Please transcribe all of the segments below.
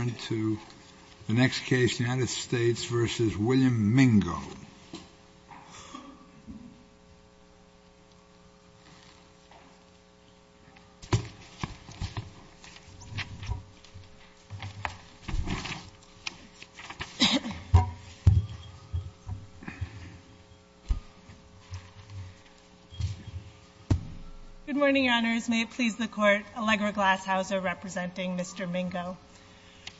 Good morning, Your Honors. May it please the Court, Allegra Glasshauser representing Mr.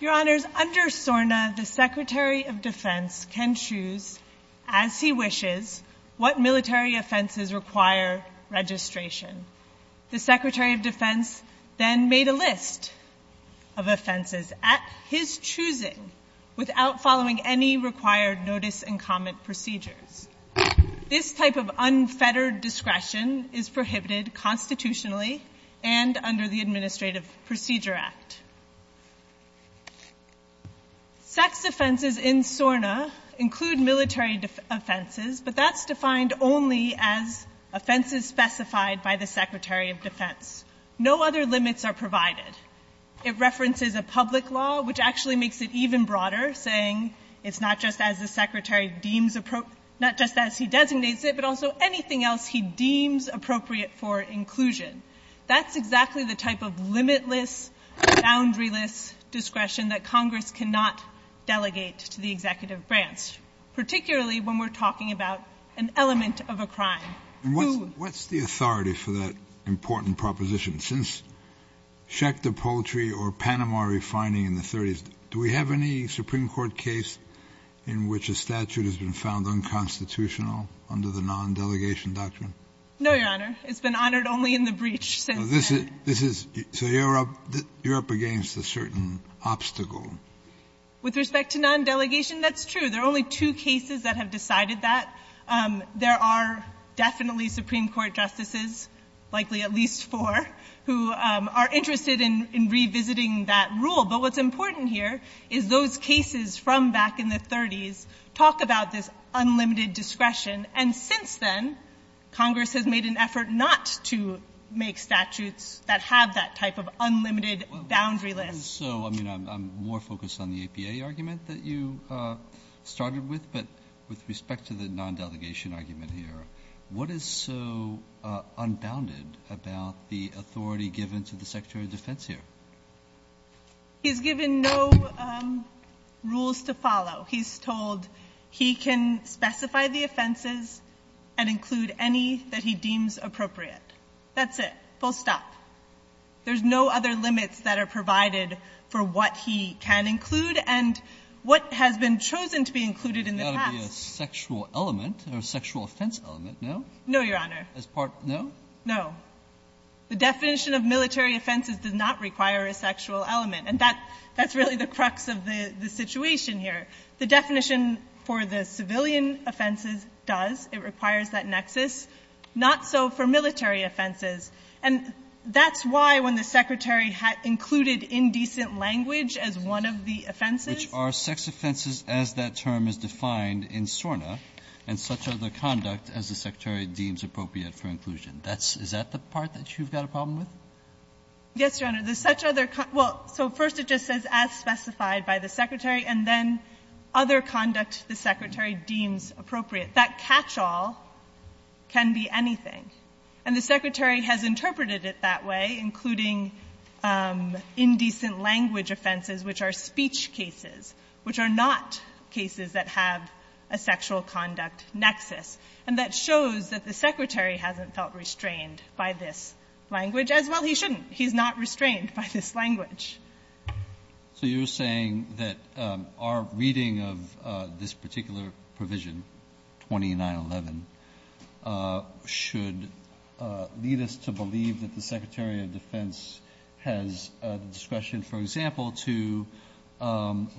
Your Honors, under SORNA, the Secretary of Defense can choose, as he wishes, what military offenses require registration. The Secretary of Defense then made a list of offenses at his choosing without following any required notice and comment procedures. This type of unfettered discretion is prohibited constitutionally and under the Administrative Procedure Act. Sex offenses in SORNA include military offenses, but that's defined only as offenses specified by the Secretary of Defense. No other limits are provided. It references a public law, which actually makes it even broader, saying it's not just as the Secretary deems appropriate, not just as he designates it, but also anything else he deems appropriate for inclusion. That's exactly the type of limitless, boundaryless discretion that Congress cannot delegate to the Executive Branch, particularly when we're talking about an element of a crime. What's the authority for that important proposition? Since Schechter Poultry or Panama refining in the 30s, do we have any Supreme Court case in which a statute has been found unconstitutional under the non-delegation doctrine? No, Your Honor. It's been honored only in the breach since then. This is so you're up against a certain obstacle. With respect to non-delegation, that's true. There are only two cases that have decided that. There are definitely Supreme Court justices, likely at least four, who are interested in revisiting that rule. But what's important here is those cases from back in the 30s talk about this unlimited discretion. And since then, Congress has made an effort not to make statutes that have that type of unlimited, boundaryless discretion. So, I mean, I'm more focused on the APA argument that you started with, but with respect to the non-delegation argument here, what is so unbounded about the authority given to the Secretary of Defense here? He's given no rules to follow. He's told he can specify the offenses and include any that he deems appropriate. That's it. Full stop. There's no other limits that are provided for what he can include and what has been chosen to be included in the past. It's got to be a sexual element or a sexual offense element, no? No, Your Honor. As part of the no? No. The definition of military offenses does not require a sexual element. And that's really the crux of the situation here. The definition for the civilian offenses does. It requires that nexus, not so for military offenses. And that's why, when the Secretary included indecent language as one of the offenses Which are sex offenses as that term is defined in SORNA and such other conduct as the Secretary deems appropriate for inclusion. Is that the part that you've got a problem with? Yes, Your Honor. The such other con so first it just says as specified by the Secretary and then other conduct the Secretary deems appropriate. That catch-all can be anything. And the Secretary has interpreted it that way, including indecent language offenses, which are speech cases, which are not cases that have a sexual conduct nexus. And that shows that the Secretary hasn't felt restrained by this language, as well he shouldn't. He's not restrained by this language. So you're saying that our reading of this particular provision, 2911, should lead us to believe that the Secretary of Defense has discretion, for example, to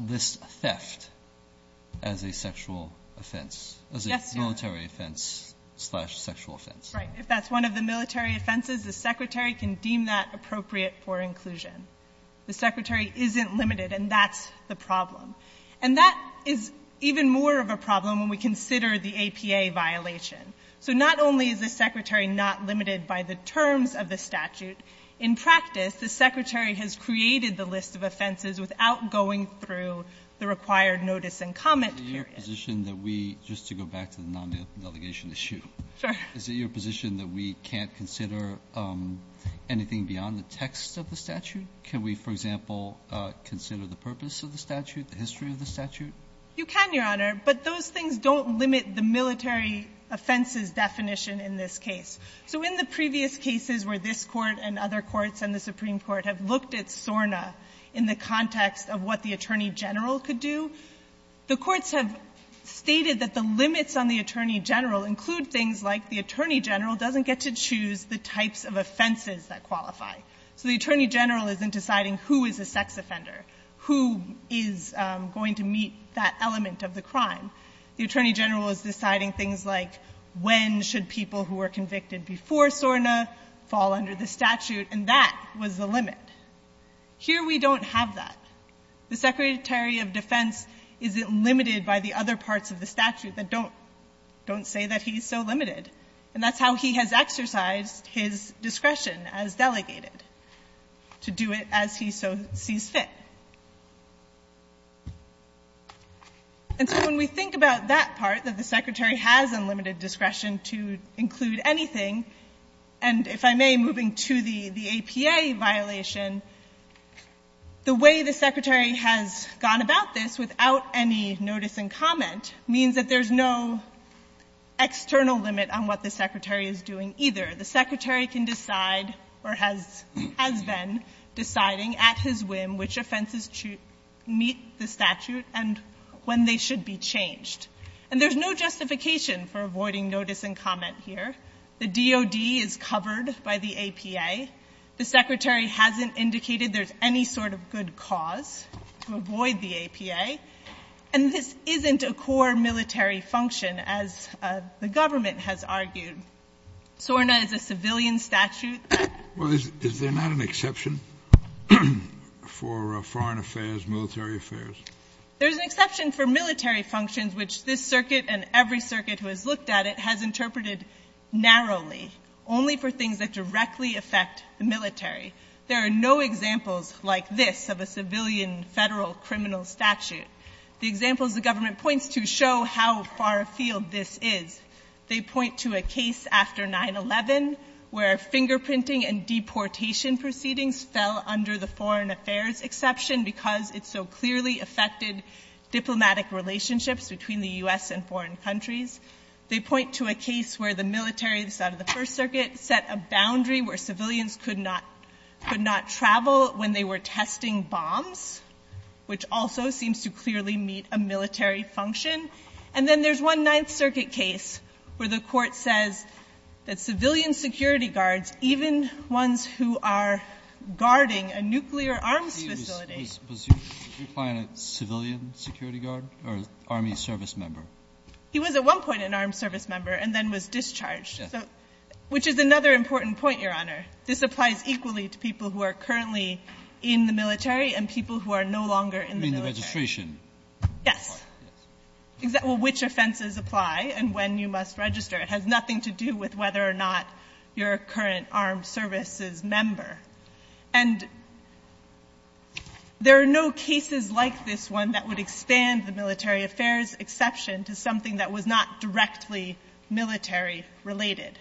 list theft as a sexual offense, as a military offense slash sexual offense. Yes, Your Honor. Right. If that's one of the military offenses, the Secretary can deem that appropriate for inclusion. The Secretary isn't limited, and that's the problem. And that is even more of a problem when we consider the APA violation. So not only is the Secretary not limited by the terms of the statute, in practice the Secretary has created the list of offenses without going through the required notice and comment period. Is it your position that we, just to go back to the non-delegation issue, is it your position that we have anything beyond the text of the statute? Can we, for example, consider the purpose of the statute, the history of the statute? You can, Your Honor, but those things don't limit the military offenses definition in this case. So in the previous cases where this Court and other courts and the Supreme Court have looked at SORNA in the context of what the Attorney General could do, the courts have stated that the limits on the Attorney General include things like the offenses that qualify. So the Attorney General isn't deciding who is a sex offender, who is going to meet that element of the crime. The Attorney General is deciding things like when should people who were convicted before SORNA fall under the statute, and that was the limit. Here we don't have that. The Secretary of Defense isn't limited by the other parts of the statute that don't say that he's so limited, and that's how he has exercised his discretion as delegated, to do it as he so sees fit. And so when we think about that part, that the Secretary has unlimited discretion to include anything, and if I may, moving to the APA violation, the way the Secretary has gone about this without any notice and comment means that there's no, there's no external limit on what the Secretary is doing either. The Secretary can decide, or has, has been, deciding at his whim which offenses meet the statute and when they should be changed. And there's no justification for avoiding notice and comment here. The DOD is covered by the APA. The Secretary hasn't indicated there's any sort of good cause to avoid the APA. And this isn't a core military function, the government has argued. SORNA is a civilian statute. Well, is there not an exception for foreign affairs, military affairs? There's an exception for military functions, which this circuit and every circuit who has looked at it has interpreted narrowly, only for things that directly affect the military. There are no examples like this of a civilian Federal criminal statute. The examples the government points to show how far afield this is. They point to a case after 9-11 where fingerprinting and deportation proceedings fell under the foreign affairs exception because it so clearly affected diplomatic relationships between the U.S. and foreign countries. They point to a case where the military, the side of the First Circuit, set a boundary where civilians could not, could not be deported. They were testing bombs, which also seems to clearly meet a military function. And then there's one Ninth Circuit case where the Court says that civilian security guards, even ones who are guarding a nuclear arms facility. Was your client a civilian security guard or an Army service member? He was at one point an armed service member and then was discharged. Yes. Which is another important point, Your Honor. This applies equally to people who are currently in the military and people who are no longer in the military. You mean the registration? Yes. Yes. Which offenses apply and when you must register. It has nothing to do with whether or not you're a current armed services member. And there are no cases like this one that would expand the military affairs exception to something that was not directly military related.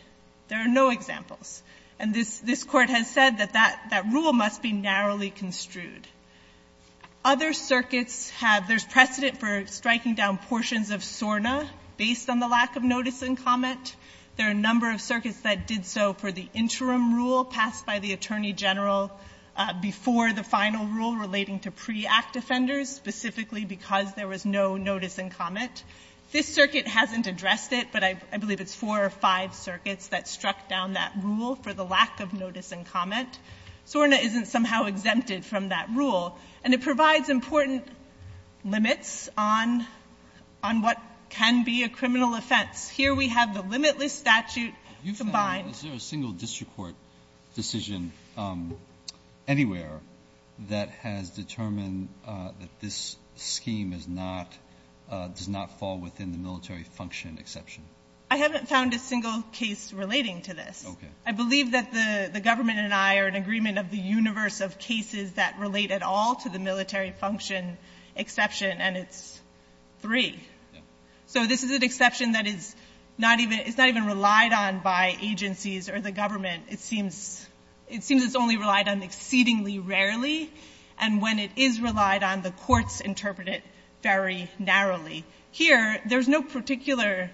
There are no examples. And this, this Court has said that that, that rule must be narrowly construed. Other circuits have, there's precedent for striking down portions of SORNA based on the lack of notice and comment. There are a number of circuits that did so for the interim rule passed by the Attorney General before the final rule relating to pre-act offenders, specifically because there was no notice and comment. This circuit hasn't addressed it, but I believe it's four or five circuits that struck down that rule for the lack of notice and comment. SORNA isn't somehow exempted from that rule. And it provides important limits on, on what can be a criminal offense. Here we have the limitless statute combined. You found, is there a single district court decision anywhere that has determined that this scheme is not, does not fall within the military function exception? I haven't found a single case relating to this. Okay. I believe that the, the government and I are in agreement of the universe of cases that relate at all to the military function exception, and it's three. Yeah. So this is an exception that is not even, it's not even relied on by agencies or the government. It seems, it seems it's only relied on exceedingly rarely. And when it is relied on, the courts interpret it very narrowly. Here, there's no particular,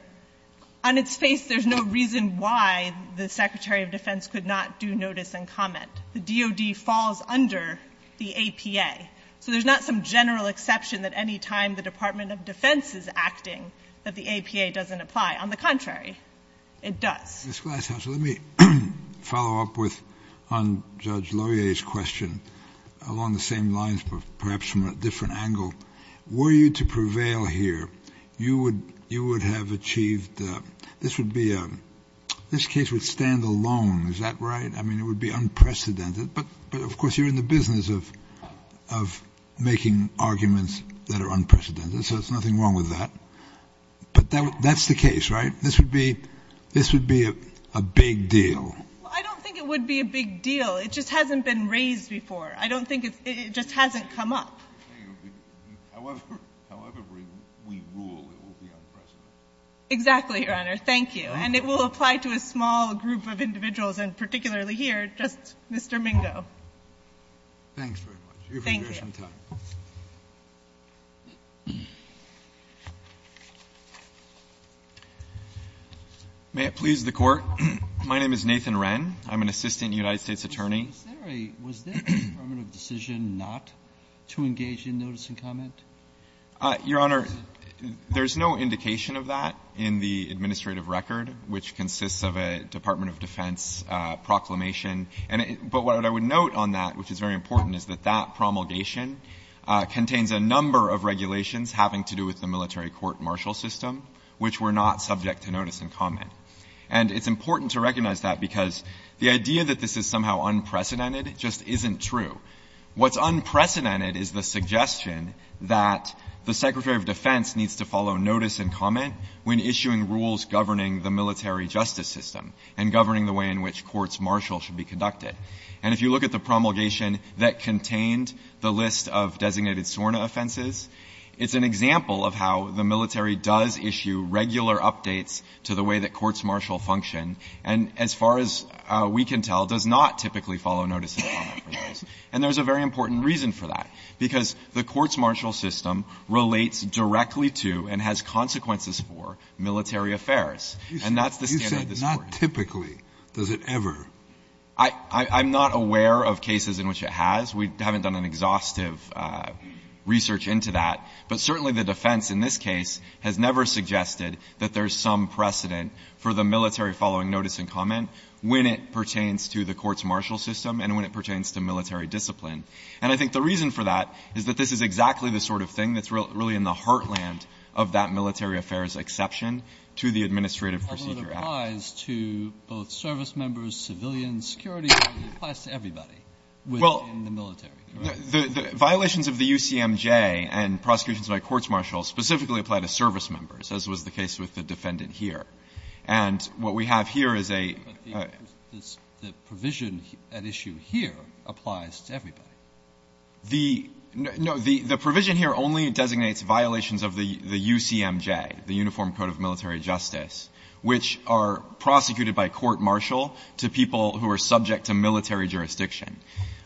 on its face, there's no reason why the Secretary of Defense could not do notice and comment. The DOD falls under the APA. So there's not some general exception that any time the Department of Defense is acting, that the APA doesn't apply. On the contrary, it does. Mr. Glasshouse, let me follow up with, on Judge Loyer's question along the same lines, but perhaps from a different angle. Were you to prevail here, you would, you would have achieved, this would be a, this case would stand alone. Is that right? I mean, it would be unprecedented. But, but of course you're in the business of, of making arguments that are unprecedented. So there's nothing wrong with that. But that, that's the case, right? This would be, this would be a big deal. Well, I don't think it would be a big deal. It just hasn't been raised before. I don't think it's, it just hasn't come up. However, however we rule, it will be unprecedented. Exactly, Your Honor. Thank you. And it will apply to a small group of individuals, and particularly here, just Mr. Mingo. Thanks very much. Thank you. May it please the Court. My name is Nathan Wren. I'm an assistant United States attorney. Was there a, was there a permanent decision not to engage in notice and comment? Your Honor, there's no indication of that in the administrative record, which consists of a Department of Defense proclamation. But what I would note on that, which is very important, is that that promulgation contains a number of regulations having to do with the military court-martial system, which were not subject to notice and comment. And it's important to recognize that because the idea that this is somehow unprecedented just isn't true. What's unprecedented is the suggestion that the Secretary of Defense needs to follow notice and comment when issuing rules governing the military justice system and governing the way in which courts-martial should be conducted. And if you look at the promulgation that contained the list of designated SORNA offenses, it's an example of how the military does issue regular updates to the way that courts-martial function, and as far as we can tell, does not typically follow notice and comment for those. And there's a very important reason for that, because the courts-martial system relates directly to and has consequences for military affairs. And that's the standard at this point. Scalia, you said not typically. Does it ever? I'm not aware of cases in which it has. We haven't done an exhaustive research into that. But certainly the defense in this case has never suggested that there's some precedent for the military following notice and comment when it pertains to the courts-martial system and when it pertains to military discipline. And I think the reason for that is that this is exactly the sort of thing that's really in the heartland of that military affairs exception to the Administrative Procedure Act. But it applies to both service members, civilians, security. It applies to everybody within the military. Well, the violations of the UCMJ and prosecutions by courts-martial specifically apply to service members, as was the case with the defendant here. And what we have here is a – But the provision at issue here applies to everybody. The – no. The provision here only designates violations of the UCMJ, the Uniform Code of Military Justice, which are prosecuted by court-martial to people who are subject to military jurisdiction.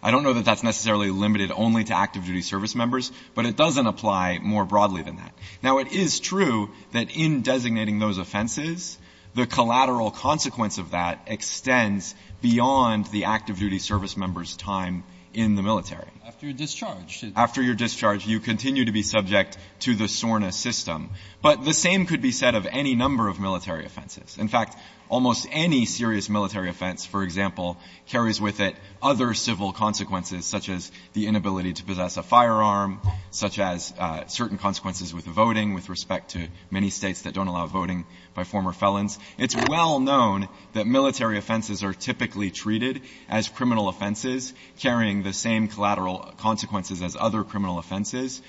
I don't know that that's necessarily limited only to active-duty service members, but it doesn't apply more broadly than that. Now, it is true that in designating those offenses, the collateral consequence of that extends beyond the active-duty service member's time in the military. After your discharge. After your discharge, you continue to be subject to the SORNA system. But the same could be said of any number of military offenses. In fact, almost any serious military offense, for example, carries with it other civil consequences, such as the inability to possess a firearm, such as certain consequences with voting with respect to many States that don't allow voting by former felons. It's well known that military offenses are typically treated as criminal offenses carrying the same collateral consequences as other criminal offenses,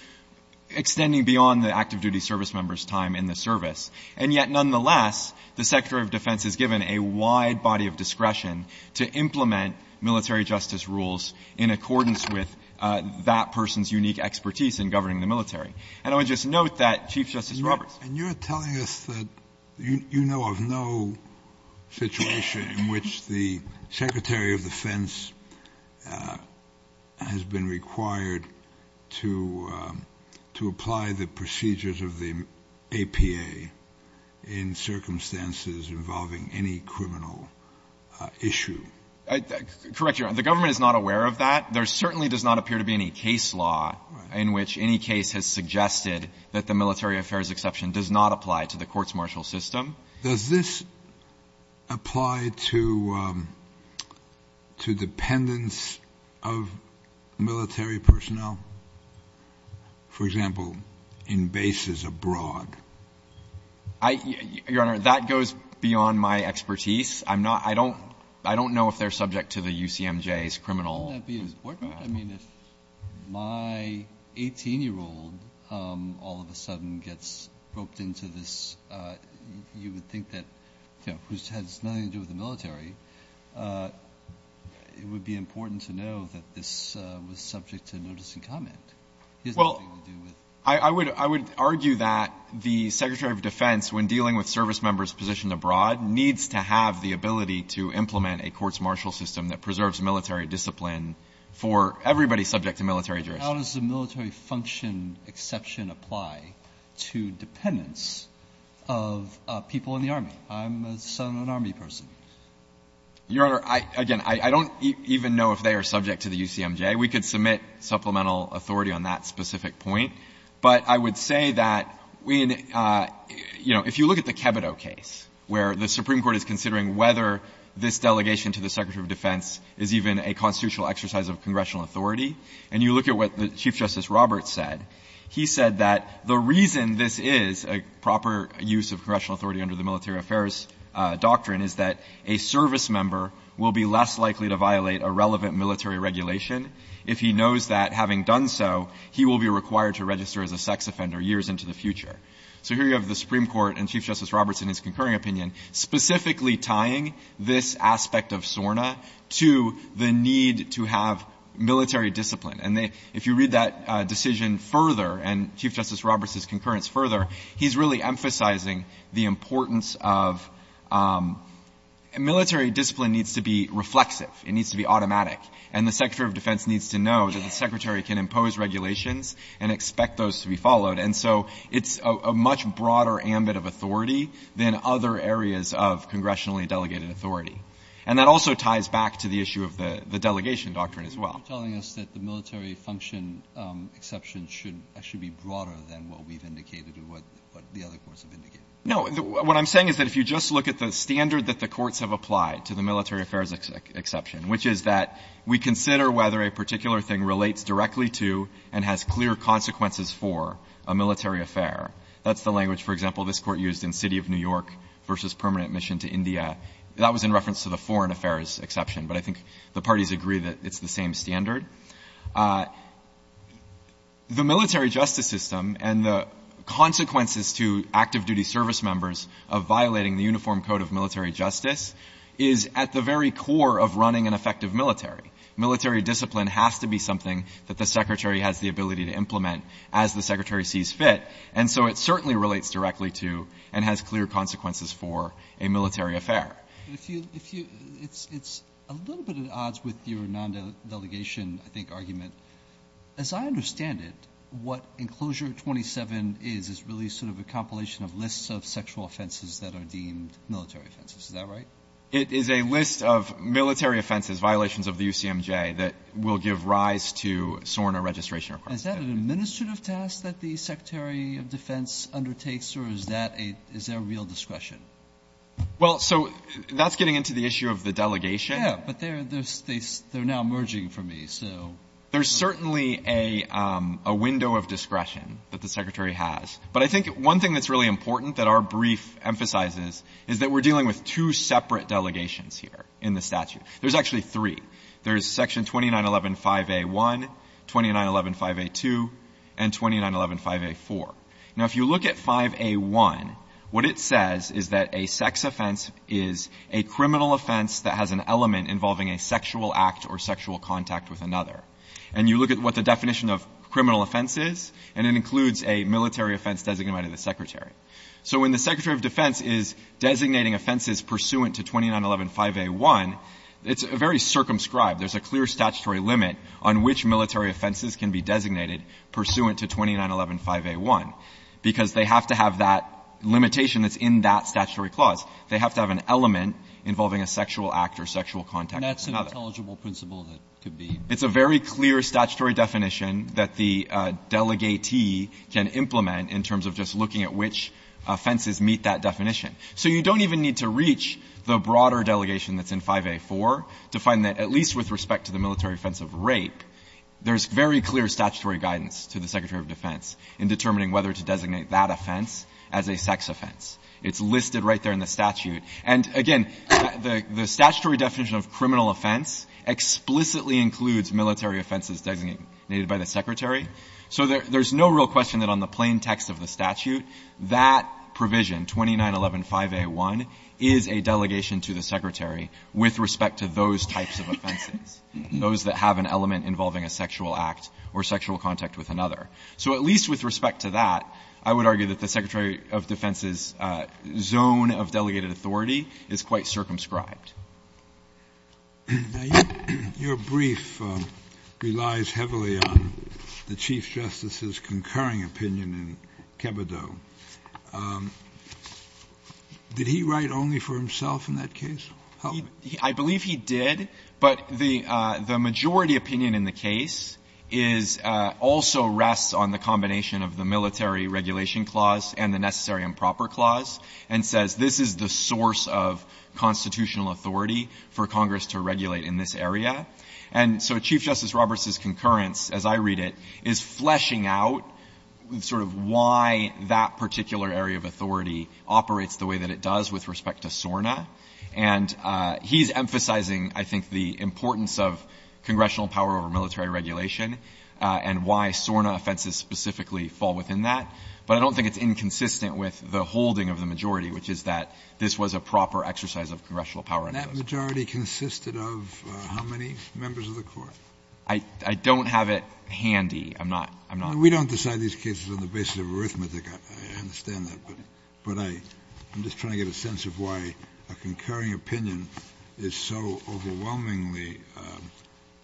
extending beyond the active-duty service member's time in the service. And yet, nonetheless, the Secretary of Defense is given a wide body of discretion to implement military justice rules in accordance with that person's unique expertise in governing the military. And I would just note that Chief Justice Roberts. And you're telling us that you know of no situation in which the Secretary of Defense has been required to apply the procedures of the APA in circumstances involving any criminal issue. Correct, Your Honor. The government is not aware of that. There certainly does not appear to be any case law in which any case has suggested that the military affairs exception does not apply to the courts-martial system. Does this apply to the dependence of military personnel, for example, in bases abroad? I — Your Honor, that goes beyond my expertise. I'm not — I don't know if they're subject to the UCMJ's criminal — Well, wouldn't that be important? I mean, if my 18-year-old all of a sudden gets roped into this, you would think that, you know, which has nothing to do with the military, it would be important to know that this was subject to notice and comment. Well, I would argue that the Secretary of Defense, when dealing with service members positioned abroad, needs to have the ability to implement a courts-martial system that preserves military discipline for everybody subject to military jurisdiction. How does the military function exception apply to dependence of people in the Army? I'm a Southern Army person. Your Honor, I — again, I don't even know if they are subject to the UCMJ. We could submit supplemental authority on that specific point. But I would say that, you know, if you look at the Kebido case, where the Supreme Court delegation to the Secretary of Defense is even a constitutional exercise of congressional authority, and you look at what Chief Justice Roberts said, he said that the reason this is a proper use of congressional authority under the military affairs doctrine is that a service member will be less likely to violate a relevant military regulation if he knows that, having done so, he will be required to register as a sex offender years into the future. So here you have the Supreme Court and Chief Justice Roberts in his concurring opinion specifically tying this aspect of SORNA to the need to have military discipline. And if you read that decision further and Chief Justice Roberts' concurrence further, he's really emphasizing the importance of — military discipline needs to be reflexive. It needs to be automatic. And the Secretary of Defense needs to know that the Secretary can impose regulations and expect those to be followed. And so it's a much broader ambit of authority than other areas of congressionally delegated authority. And that also ties back to the issue of the delegation doctrine as well. Roberts. You're telling us that the military function exception should be broader than what we've indicated or what the other courts have indicated? No. What I'm saying is that if you just look at the standard that the courts have applied to the military affairs exception, which is that we consider whether a particular thing relates directly to and has clear consequences for a military affair. That's the language, for example, this Court used in City of New York v. Permanent Mission to India. That was in reference to the foreign affairs exception. But I think the parties agree that it's the same standard. The military justice system and the consequences to active-duty service members of violating the Uniform Code of Military Justice is at the very core of running an effective military. Military discipline has to be something that the Secretary has the ability to implement as the Secretary sees fit. And so it certainly relates directly to and has clear consequences for a military affair. But if you – it's a little bit at odds with your non-delegation, I think, argument. As I understand it, what Enclosure 27 is is really sort of a compilation of lists of sexual offenses that are deemed military offenses. Is that right? It is a list of military offenses, violations of the UCMJ, that will give rise to SORNA registration requirements. Is that an administrative task that the Secretary of Defense undertakes, or is that a – is there real discretion? Well, so that's getting into the issue of the delegation. Yeah, but they're – they're now merging for me, so. There's certainly a window of discretion that the Secretary has. But I think one thing that's really important that our brief emphasizes is that we're looking at separate delegations here in the statute. There's actually three. There's Section 2911, 5A1, 2911, 5A2, and 2911, 5A4. Now, if you look at 5A1, what it says is that a sex offense is a criminal offense that has an element involving a sexual act or sexual contact with another. And you look at what the definition of criminal offense is, and it includes a military offense designated by the Secretary. So when the Secretary of Defense is designating offenses pursuant to 2911, 5A1, it's very circumscribed. There's a clear statutory limit on which military offenses can be designated pursuant to 2911, 5A1, because they have to have that limitation that's in that statutory clause. They have to have an element involving a sexual act or sexual contact with another. And that's an intelligible principle that could be? It's a very clear statutory definition that the delegatee can implement in terms of just looking at which offenses meet that definition. So you don't even need to reach the broader delegation that's in 5A4 to find that, at least with respect to the military offense of rape, there's very clear statutory guidance to the Secretary of Defense in determining whether to designate that offense as a sex offense. It's listed right there in the statute. And, again, the statutory definition of criminal offense explicitly includes military offenses designated by the Secretary. So there's no real question that on the plain text of the statute, that provision, 2911, 5A1, is a delegation to the Secretary with respect to those types of offenses, those that have an element involving a sexual act or sexual contact with another. So at least with respect to that, I would argue that the Secretary of Defense's zone of delegated authority is quite circumscribed. Kennedy, your brief relies heavily on the Chief Justice's concurring opinion in Kebido. Did he write only for himself in that case? I believe he did. But the majority opinion in the case is also rests on the combination of the military regulation clause and the necessary and proper clause, and says this is the source of constitutional authority for Congress to regulate in this area. And so Chief Justice Roberts' concurrence, as I read it, is fleshing out sort of why that particular area of authority operates the way that it does with respect to SORNA. And he's emphasizing, I think, the importance of congressional power over military regulation and why SORNA offenses specifically fall within that. But I don't think it's inconsistent with the holding of the majority, which is that this was a proper exercise of congressional power. And that majority consisted of how many members of the Court? I don't have it handy. I'm not. I'm not. We don't decide these cases on the basis of arithmetic. I understand that. But I'm just trying to get a sense of why a concurring opinion is so overwhelmingly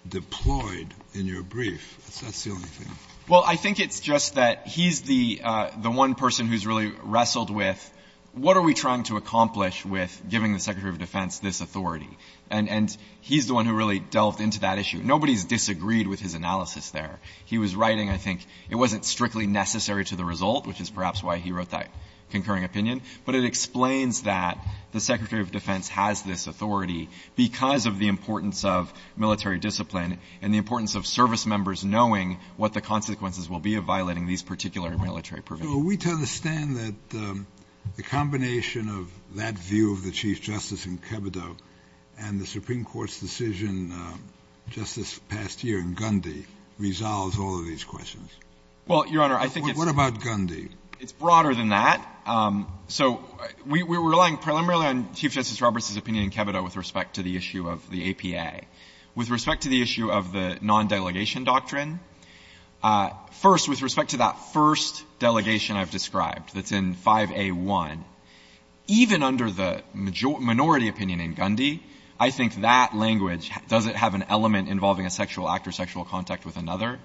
deployed in your brief. That's the only thing. Well, I think it's just that he's the one person who's really wrestled with what are we trying to accomplish with giving the Secretary of Defense this authority. And he's the one who really delved into that issue. Nobody's disagreed with his analysis there. He was writing, I think, it wasn't strictly necessary to the result, which is perhaps why he wrote that concurring opinion. But it explains that the Secretary of Defense has this authority because of the importance of military discipline and the importance of service members knowing what the consequences will be of violating these particular military provisions. So are we to understand that the combination of that view of the Chief Justice in Kebido and the Supreme Court's decision just this past year in Gundy resolves all of these questions? Well, Your Honor, I think it's the same. What about Gundy? It's broader than that. So we're relying preliminarily on Chief Justice Roberts' opinion in Kebido with respect to the issue of the APA. With respect to the issue of the non-delegation doctrine, first, with respect to that first delegation I've described that's in 5A1, even under the minority opinion in Gundy, I think that language, does it have an element involving a sexual act or sexual contact with another,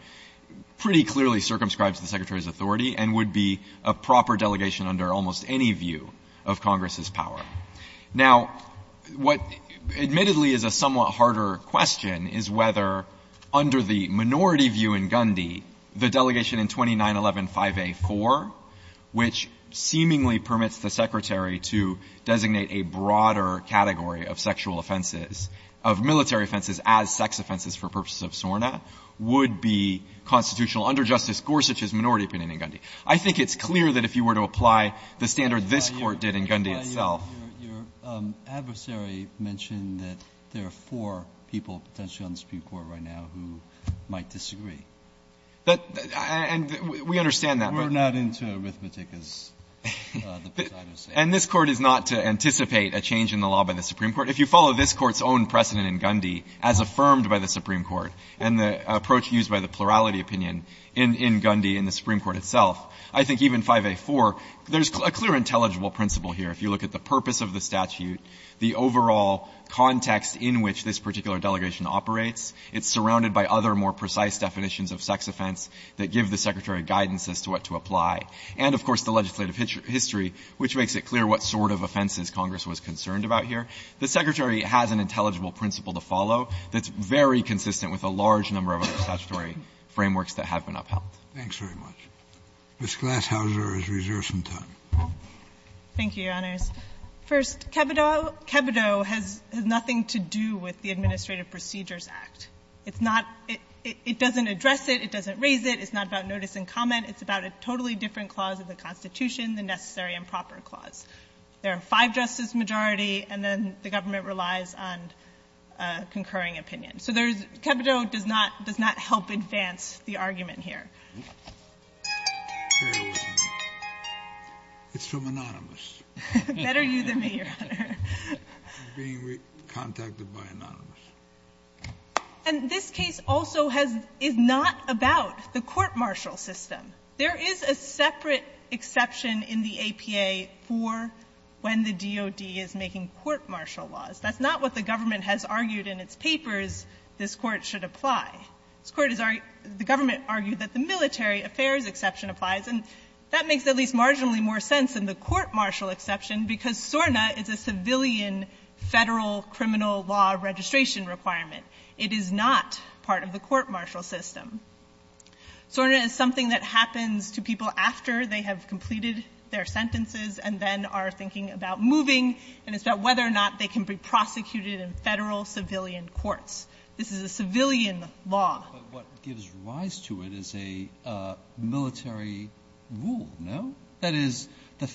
pretty clearly circumscribes the Secretary's authority and would be a proper delegation under almost any view of Congress's power. Now, what admittedly is a somewhat harder question is whether under the minority view in Gundy, the delegation in 2911, 5A4, which seemingly permits the Secretary to designate a broader category of sexual offenses, of military offenses as sex offenses for purposes of SORNA, would be constitutional under Justice Gorsuch's minority opinion in Gundy. I think it's clear that if you were to apply the standard this Court did in Gundy itself. Breyer, your adversary mentioned that there are four people potentially on the Supreme Court right now who might disagree. And we understand that. We're not into arithmetic, as the presiders say. And this Court is not to anticipate a change in the law by the Supreme Court. If you follow this Court's own precedent in Gundy, as affirmed by the Supreme Court, and the approach used by the plurality opinion in Gundy in the Supreme Court itself, I think even 5A4, there's a clear intelligible principle here. If you look at the purpose of the statute, the overall context in which this particular delegation operates, it's surrounded by other, more precise definitions of sex offense that give the Secretary guidance as to what to apply, and, of course, the legislative history, which makes it clear what sort of offenses Congress was concerned about here. The Secretary has an intelligible principle to follow that's very consistent with a large number of other statutory frameworks that have been upheld. Thanks very much. Thank you, Your Honors. First, Kebido has nothing to do with the Administrative Procedures Act. It's not — it doesn't address it. It doesn't raise it. It's not about notice and comment. It's about a totally different clause of the Constitution, the necessary and proper clause. There are five justices majority, and then the government relies on concurring opinion. So there's — Kebido does not — does not help advance the argument here. It's from Anonymous. Better you than me, Your Honor. It's being contacted by Anonymous. And this case also has — is not about the court-martial system. There is a separate exception in the APA for when the DOD is making court-martial laws. That's not what the government has argued in its papers this Court should apply. This Court is — the government argued that the military affairs exception applies. And that makes at least marginally more sense than the court-martial exception because SORNA is a civilian federal criminal law registration requirement. It is not part of the court-martial system. SORNA is something that happens to people after they have completed their sentences and then are thinking about moving, and it's about whether or not they can be prosecuted in federal civilian courts. This is a civilian law. But what gives rise to it is a military rule, no? That is, the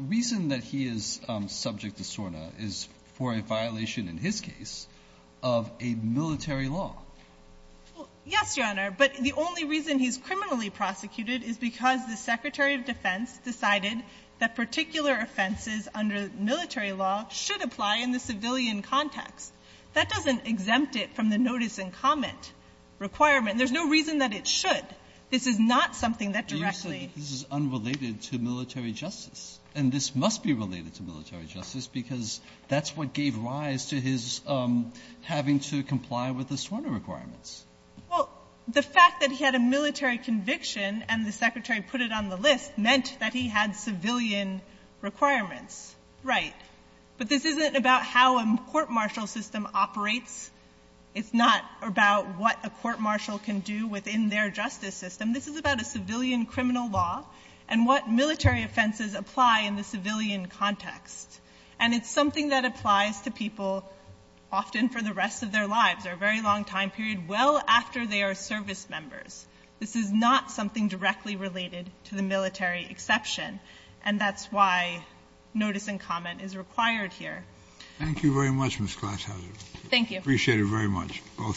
reason that he is subject to SORNA is for a violation, in his case, of a military law. Well, yes, Your Honor, but the only reason he's criminally prosecuted is because the Secretary of Defense decided that particular offenses under military law should apply in the civilian context. That doesn't exempt it from the notice and comment requirement. There's no reason that it should. This is not something that directly — But you said this is unrelated to military justice. And this must be related to military justice because that's what gave rise to his having to comply with the SORNA requirements. Well, the fact that he had a military conviction and the Secretary put it on the list meant that he had civilian requirements, right. But this isn't about how a court-martial system operates. It's not about what a court-martial can do within their justice system. This is about a civilian criminal law and what military offenses apply in the civilian context. And it's something that applies to people often for the rest of their lives or a very long time period, well after they are service members. This is not something directly related to the military exception. And that's why notice and comment is required here. Thank you very much, Ms. Glashauser. Thank you. Appreciate it very much, both sides.